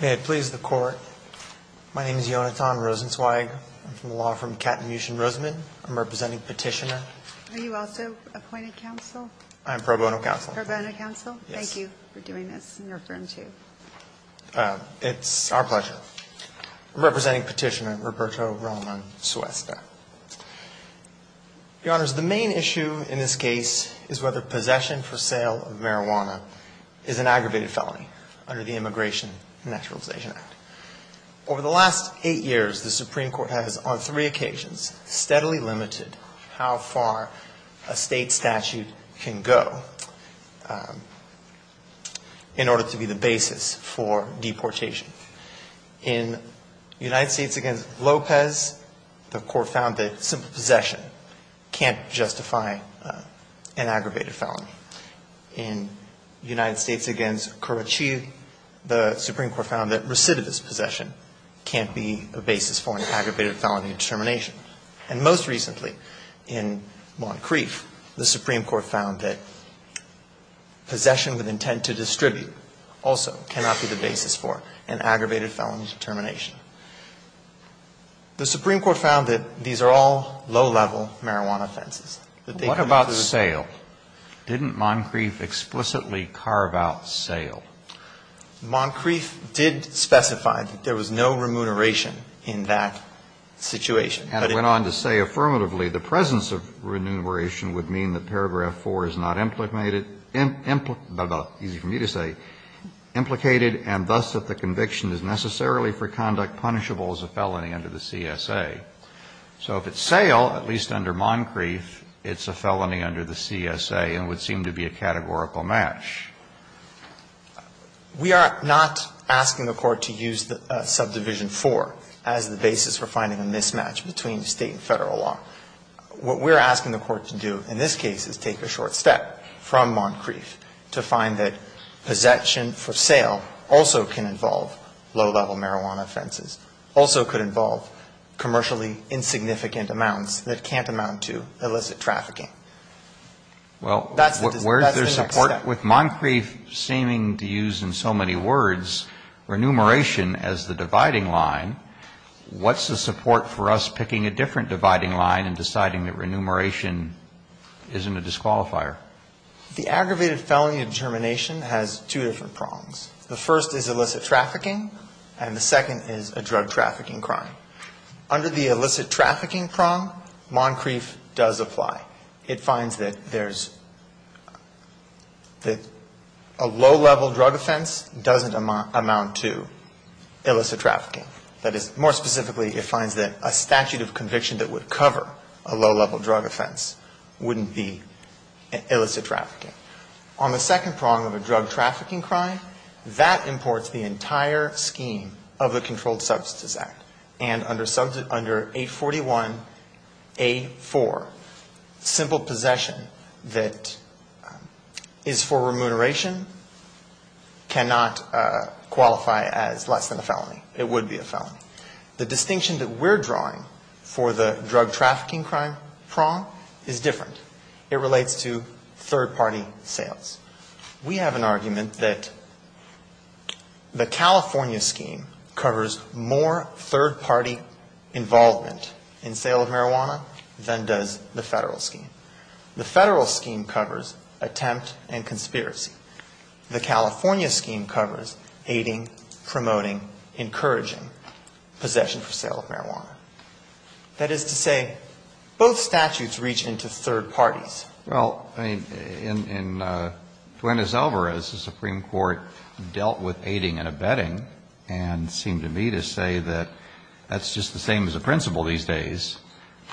May it please the Court, my name is Yonatan Rosenzweig. I'm from the law firm Catamucian-Roseman. I'm representing Petitioner. Are you also appointed counsel? I'm pro bono counsel. Pro bono counsel. Yes. Thank you for doing this and your friend too. It's our pleasure. I'm representing Petitioner Roberto Roman-Suaste. Your Honors, the main issue in this case is whether possession for sale of marijuana is an aggravated felony under the Immigration and Naturalization Act. Over the last eight years, the Supreme Court has, on three occasions, steadily limited how far a state statute can go in order to be the basis for deportation. In United States v. Lopez, the Court found that simple possession can't justify an aggravated felony. In United States v. Currucci, the Supreme Court found that recidivist possession can't be a basis for an aggravated felony determination. And most recently, in Moncrief, the Supreme Court found that possession with intent to distribute also cannot be the basis for an aggravated felony determination. The Supreme Court found that these are all low-level marijuana offenses. What about sale? Didn't Moncrief explicitly carve out sale? Moncrief did specify that there was no remuneration in that situation. And it went on to say, affirmatively, the presence of remuneration would mean that paragraph 4 is not implicated and thus that the conviction is necessarily for conduct punishable as a felony under the CSA. So if it's sale, at least under Moncrief, it's a felony under the CSA and would seem to be a categorical match. We are not asking the Court to use subdivision 4 as the basis for finding a mismatch between State and Federal law. What we're asking the Court to do in this case is take a short step from Moncrief to find that possession for sale also can involve low-level marijuana offenses, also could involve commercially insignificant amounts that can't amount to illicit trafficking. Well, where's their support? With Moncrief seeming to use, in so many words, remuneration as the dividing line, what's the support for us picking a different dividing line and deciding that remuneration isn't a disqualifier? The aggravated felony determination has two different prongs. The first is illicit trafficking, and the second is a drug trafficking crime. Under the illicit trafficking prong, Moncrief does apply. It finds that there's, that a low-level drug offense doesn't amount to illicit trafficking. That is, more specifically, it finds that a statute of conviction that would cover a low-level drug offense wouldn't be illicit trafficking. On the second prong of a drug trafficking crime, that imports the entire scheme of the under 841A4. Simple possession that is for remuneration cannot qualify as less than a felony. It would be a felony. The distinction that we're drawing for the drug trafficking crime prong is different. It relates to third-party sales. We have an argument that the California scheme covers more third-party involvement in sale of marijuana than does the Federal scheme. The Federal scheme covers attempt and conspiracy. The California scheme covers aiding, promoting, encouraging possession for sale of marijuana. That is to say, both statutes reach into third parties. Well, I mean, in Duenes-Alvarez, the Supreme Court dealt with aiding and abetting and seemed to me to say that that's just the same as the principle these days.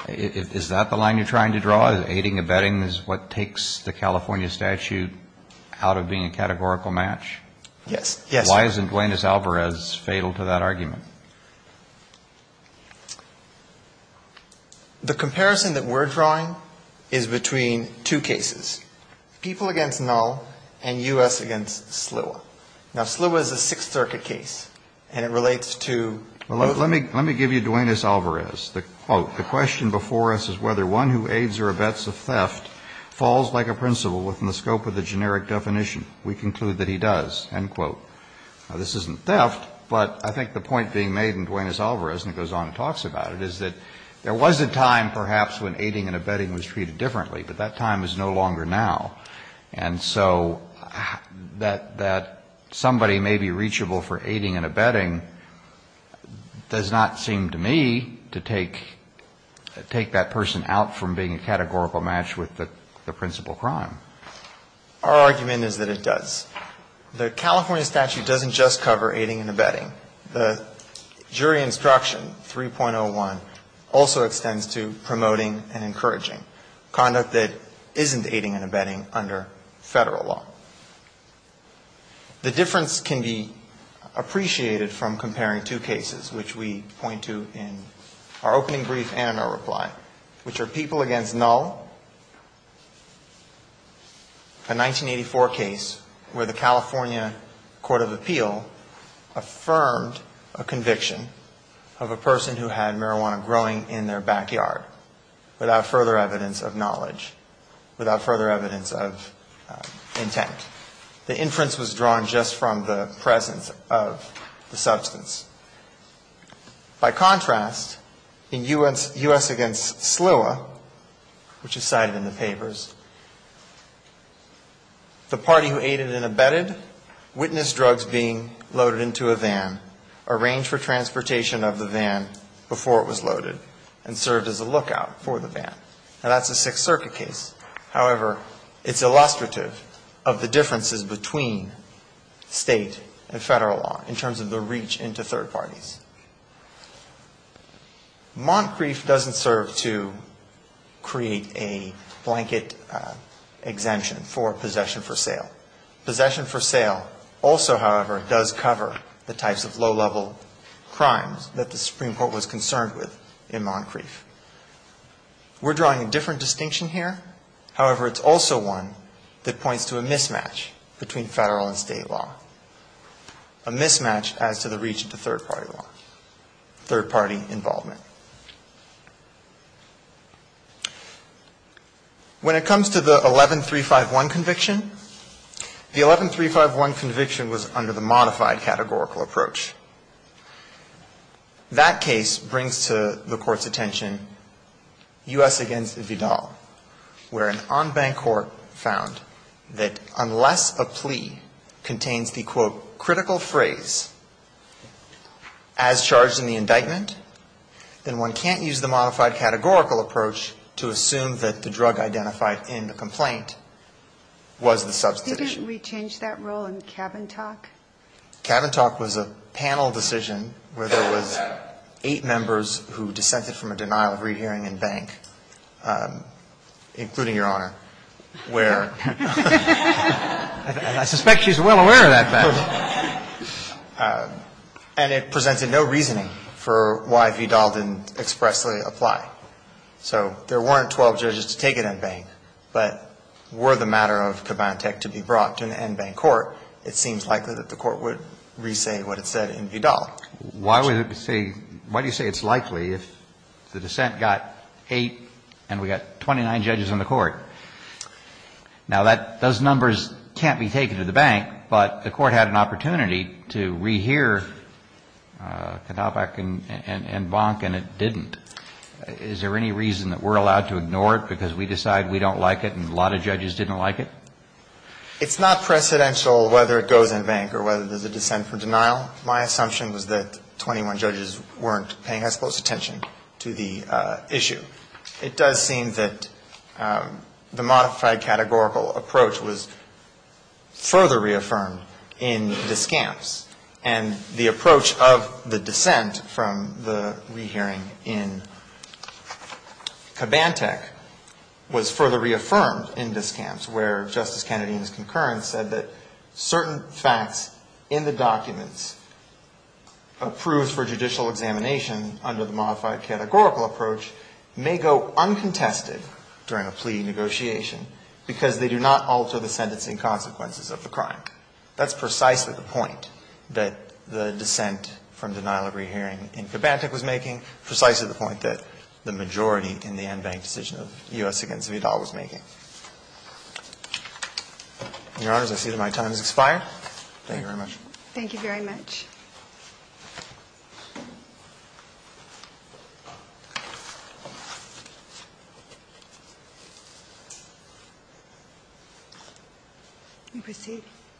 Is that the line you're trying to draw? Aiding, abetting is what takes the California statute out of being a categorical match? Yes. The comparison that we're drawing is between two cases, people against null and U.S. against SLUA. Now, SLUA is a Sixth Circuit case, and it relates to both. Well, let me give you Duenes-Alvarez. The quote, The question before us is whether one who aids or abets a theft falls like a principle within the scope of the generic definition. We conclude that he does. End quote. Now, this isn't theft, but I think the point being made in Duenes-Alvarez, and it goes on and talks about it, is that there was a time perhaps when aiding and abetting was treated differently, but that time is no longer now. And so that somebody may be reachable for aiding and abetting does not seem to me to take that person out from being a categorical match with the principle crime. Our argument is that it does. The California statute doesn't just cover aiding and abetting. The jury instruction 3.01 also extends to promoting and encouraging conduct that isn't aiding and abetting under Federal law. The difference can be appreciated from comparing two cases, which we point to in our opening brief and in our reply, which are people against null, a 1984 case where the California Court of Appeal affirmed a conviction of a person who had marijuana growing in their backyard without further evidence of knowledge, without further evidence of intent. The inference was drawn just from the presence of the substance. By contrast, in U.S. against SLUA, which is cited in the papers, the party who aided and abetted witnessed drugs being loaded into a van, arranged for transportation of the van before it was loaded, and served as a lookout for the van. Now, that's a Sixth Circuit case. However, it's illustrative of the differences between State and Federal law in terms of the reach into third parties. Moncrief doesn't serve to create a blanket exemption for possession for sale. Possession for sale also, however, does cover the types of low-level crimes that the Supreme Court was concerned with in Moncrief. We're drawing a different distinction here. However, it's also one that points to a mismatch between Federal and State law, a mismatch as to the reach into third-party law, third-party involvement. When it comes to the 11351 conviction, the 11351 conviction was under the modified categorical approach. That case brings to the Court's attention U.S. against Vidal, where an en banc court found that unless a plea contains the, quote, critical phrase, as charged in the indictment, then one can't use the modified categorical approach to assume that the drug identified in the complaint was the substantive issue. Didn't we change that rule in Cabin Talk? Cabin Talk was a panel decision where there was eight members who dissented from a denial of rehearing en banc, including Your Honor, where — And I suspect she's well aware of that, Ben. And it presented no reasoning for why Vidal didn't expressly apply. So there weren't 12 judges to take an en banc. But were the matter of Cabin Talk to be brought to an en banc court, it seems likely that the Court would re-say what it said in Vidal. Why would it say — why do you say it's likely if the dissent got eight and we got 29 judges in the court? Now, that — those numbers can't be taken to the bank, but the Court had an opportunity to rehear Kondopak en banc and it didn't. Is there any reason that we're allowed to ignore it because we decide we don't like it and a lot of judges didn't like it? It's not precedential whether it goes en banc or whether there's a dissent for denial. My assumption was that 21 judges weren't paying as close attention to the issue. It does seem that the modified categorical approach was further reaffirmed in Discamps and the approach of the dissent from the rehearing in Cabantech was further reaffirmed where Justice Kennedy in his concurrence said that certain facts in the documents approved for judicial examination under the modified categorical approach may go uncontested during a plea negotiation because they do not alter the sentencing consequences of the crime. That's precisely the point that the dissent from denial of rehearing in Cabantech was making, precisely the point that the majority in the en banc decision of U.S. against Vidal was making. Your Honors, I see that my time has expired. Thank you very much. Thank you very much.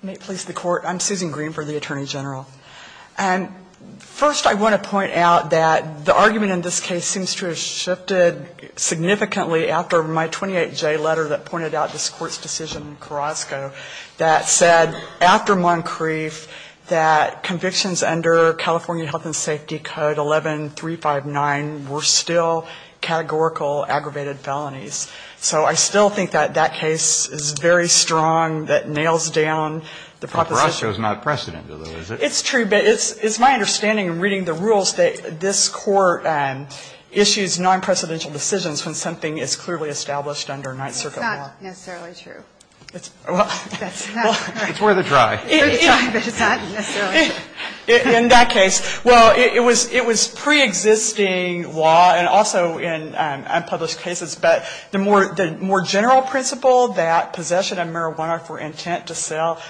May it please the Court. I'm Susan Green for the Attorney General. And first I want to point out that the argument in this case seems to have shifted significantly after my 28J letter that pointed out this Court's decision in Carrasco that said after Moncrief that convictions under California Health and Safety Code 11359 were still categorical aggravated felonies. So I still think that that case is very strong, that nails down the proposition. Carrasco is not precedent, though, is it? It's true, but it's my understanding in reading the rules that this Court issues non-precedential decisions when something is clearly established under Ninth Circuit law. It's not necessarily true. Well. That's not. It's worth a try. It's worth a try, but it's not necessarily true. In that case, well, it was preexisting law and also in unpublished cases, but the more general principle that possession of marijuana for intent to sell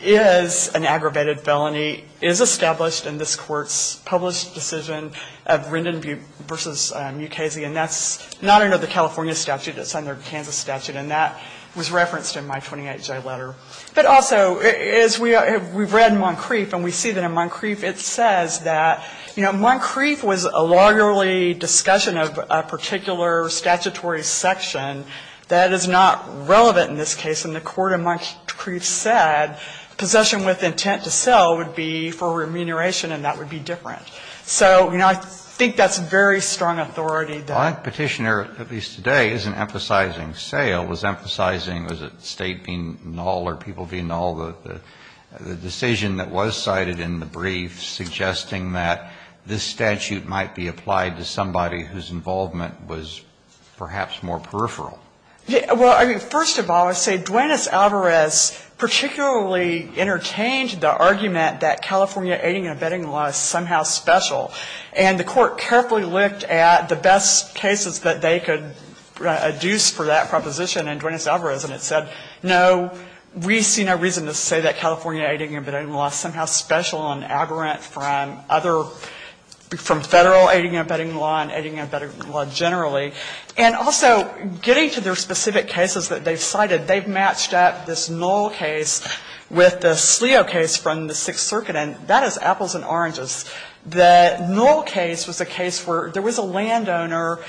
is an aggravated felony is established in this Court's published decision of Rendon v. Mukasey, and that's not under the California statute. It's under the Kansas statute, and that was referenced in my 28J letter. But also, as we read Moncrief and we see that in Moncrief, it says that, you know, Moncrief was a largely discussion of a particular statutory section that is not relevant in this case, and the court in Moncrief said possession with intent to sell would be for remuneration, and that would be different. So, you know, I think that's very strong authority. My Petitioner, at least today, isn't emphasizing sale. It was emphasizing, was it State being null or people being null? The decision that was cited in the brief suggesting that this statute might be applied to somebody whose involvement was perhaps more peripheral. Well, I mean, first of all, I say Duenas-Alvarez particularly entertained the argument that California aiding and abetting law is somehow special. And the court carefully looked at the best cases that they could adduce for that proposition in Duenas-Alvarez, and it said, no, we see no reason to say that California aiding and abetting law is somehow special and aberrant from other, from Federal aiding and abetting law and aiding and abetting law generally. And also, getting to their specific cases that they cited, they've matched up this null case with the Sleo case from the Sixth Circuit, and that is apples and oranges. The null case was a case where there was a landowner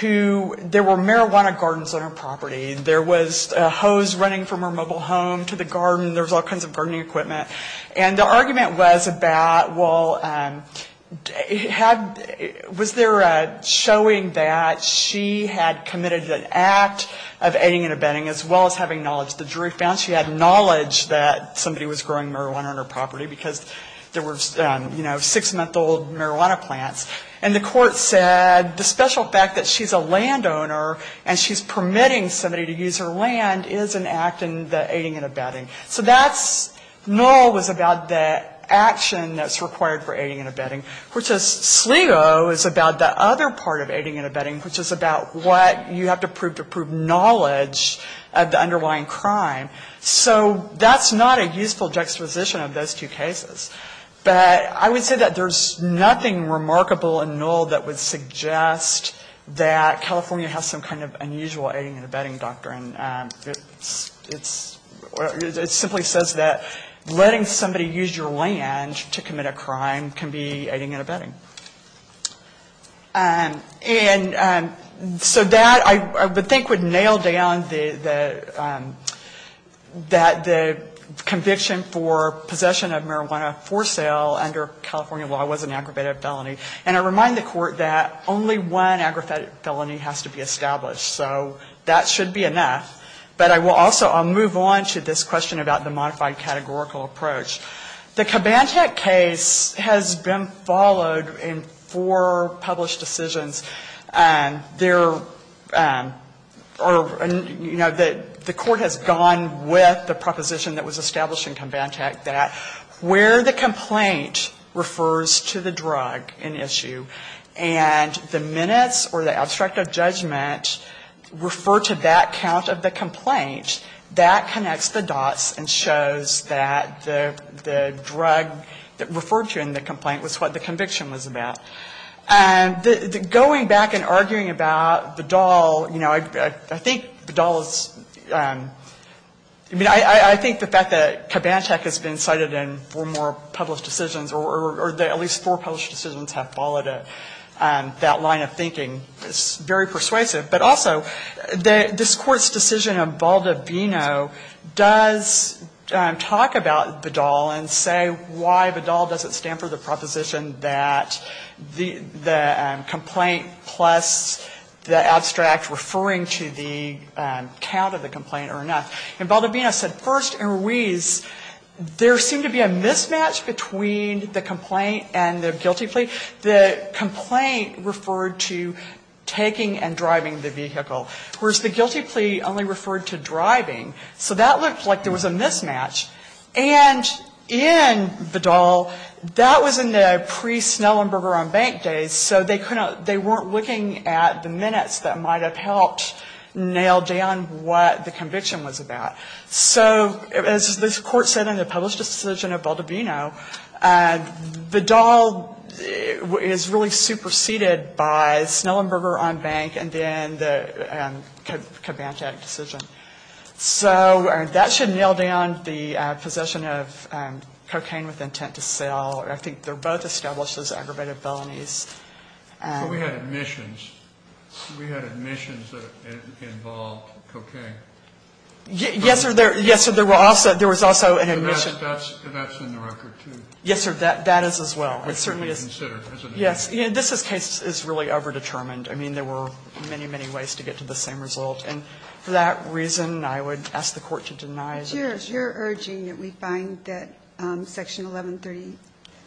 who there were marijuana gardens on her property. There was a hose running from her mobile home to the garden. There was all kinds of gardening equipment. And the argument was about, well, had, was there a showing that she had committed an act of aiding and abetting as well as having knowledge. The jury found she had knowledge that somebody was growing marijuana on her property because there were, you know, six-month-old marijuana plants. And the court said the special fact that she's a landowner and she's permitting somebody to use her land is an act in the aiding and abetting. So that's, null was about the action that's required for aiding and abetting, which Sleo is about the other part of aiding and abetting, which is about what you have to prove to prove knowledge of the underlying crime. So that's not a useful juxtaposition of those two cases. But I would say that there's nothing remarkable in null that would suggest that California has some kind of unusual aiding and abetting doctrine. It's, it simply says that letting somebody use your land to commit a crime can be aiding and abetting. And so that I would think would nail down the, that the conviction for possession of marijuana for sale under California law was an aggravated felony. And I remind the Court that only one aggravated felony has to be established. So that should be enough. But I will also, I'll move on to this question about the modified categorical approach. The Kubantek case has been followed in four published decisions. There are, you know, the Court has gone with the proposition that was established in Kubantek that where the complaint refers to the drug in issue, and the minutes or the abstract of judgment refer to that count of the complaint, that connects the dots and shows that the drug referred to in the complaint was what the conviction was about. Going back and arguing about Bedall, you know, I think Bedall is, I mean, I think the fact that Kubantek has been cited in four more published decisions, or at least four published decisions have followed that line of thinking, is very persuasive. But also, this Court's decision of Baldobino does talk about Bedall and say why Bedall doesn't stand for the proposition that the complaint plus the abstract referring to the count of the complaint are enough. And Baldobino said, first, in Ruiz, there seemed to be a mismatch between the complaint and the guilty plea. The complaint referred to taking and driving the vehicle, whereas the guilty plea only referred to driving. So that looked like there was a mismatch. And in Bedall, that was in the pre-Snellenberger on bank days, so they couldn't they weren't looking at the minutes that might have helped nail down what the conviction was about. So as this Court said in the published decision of Baldobino, Bedall is really superseded by Snellenberger on bank and then the Kubantek decision. So that should nail down the possession of cocaine with intent to sell. I think they're both established as aggravated felonies. But we had admissions. We had admissions that involved cocaine. Yes, sir. Yes, sir. There was also an admission. That's in the record, too. Yes, sir. That is as well. It certainly is. Yes. This case is really overdetermined. I mean, there were many, many ways to get to the same result. And for that reason, I would ask the Court to deny it. But you're urging that we find that Section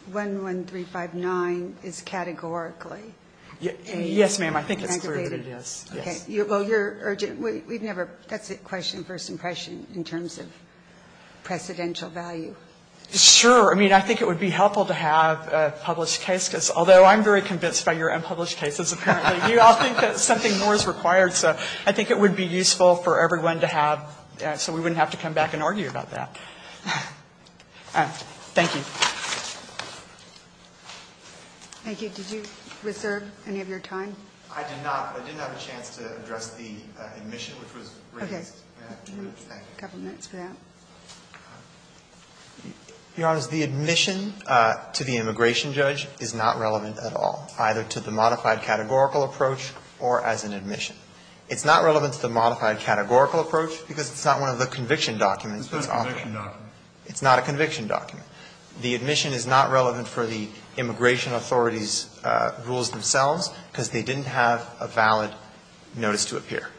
1131,1359 is categorically aggravated. Yes, ma'am. I think it's clear that it is. Okay. Well, you're urging, we've never, that's a question of first impression in terms of precedential value. Sure. I mean, I think it would be helpful to have a published case, because although I'm very convinced by your unpublished cases, apparently you all think that something more is required. So I think it would be useful for everyone to have, so we wouldn't have to come back and argue about that. Thank you. Thank you. Did you reserve any of your time? I did not. I didn't have a chance to address the admission, which was raised. Okay. Thank you. A couple minutes for that. Your Honor, the admission to the immigration judge is not relevant at all, either to the modified categorical approach or as an admission. It's not relevant to the modified categorical approach because it's not one of the conviction documents. It's not a conviction document. It's not a conviction document. The admission is not relevant for the immigration authorities' rules themselves because they didn't have a valid notice to appear.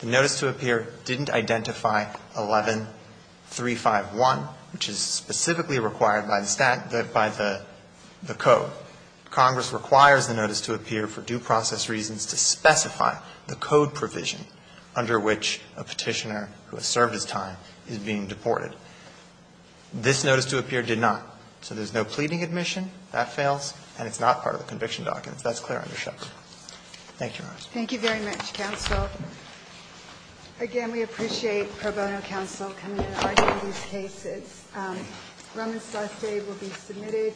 The notice to appear didn't identify 11351, which is specifically required by the statute, by the code. So Congress requires the notice to appear for due process reasons to specify the code provision under which a Petitioner who has served his time is being deported. This notice to appear did not. So there's no pleading admission. That fails. And it's not part of the conviction documents. That's clear under Shepard. Thank you, Your Honor. Thank you very much, counsel. Again, we appreciate pro bono counsel coming in and arguing these cases. Rummage Survey will be submitted.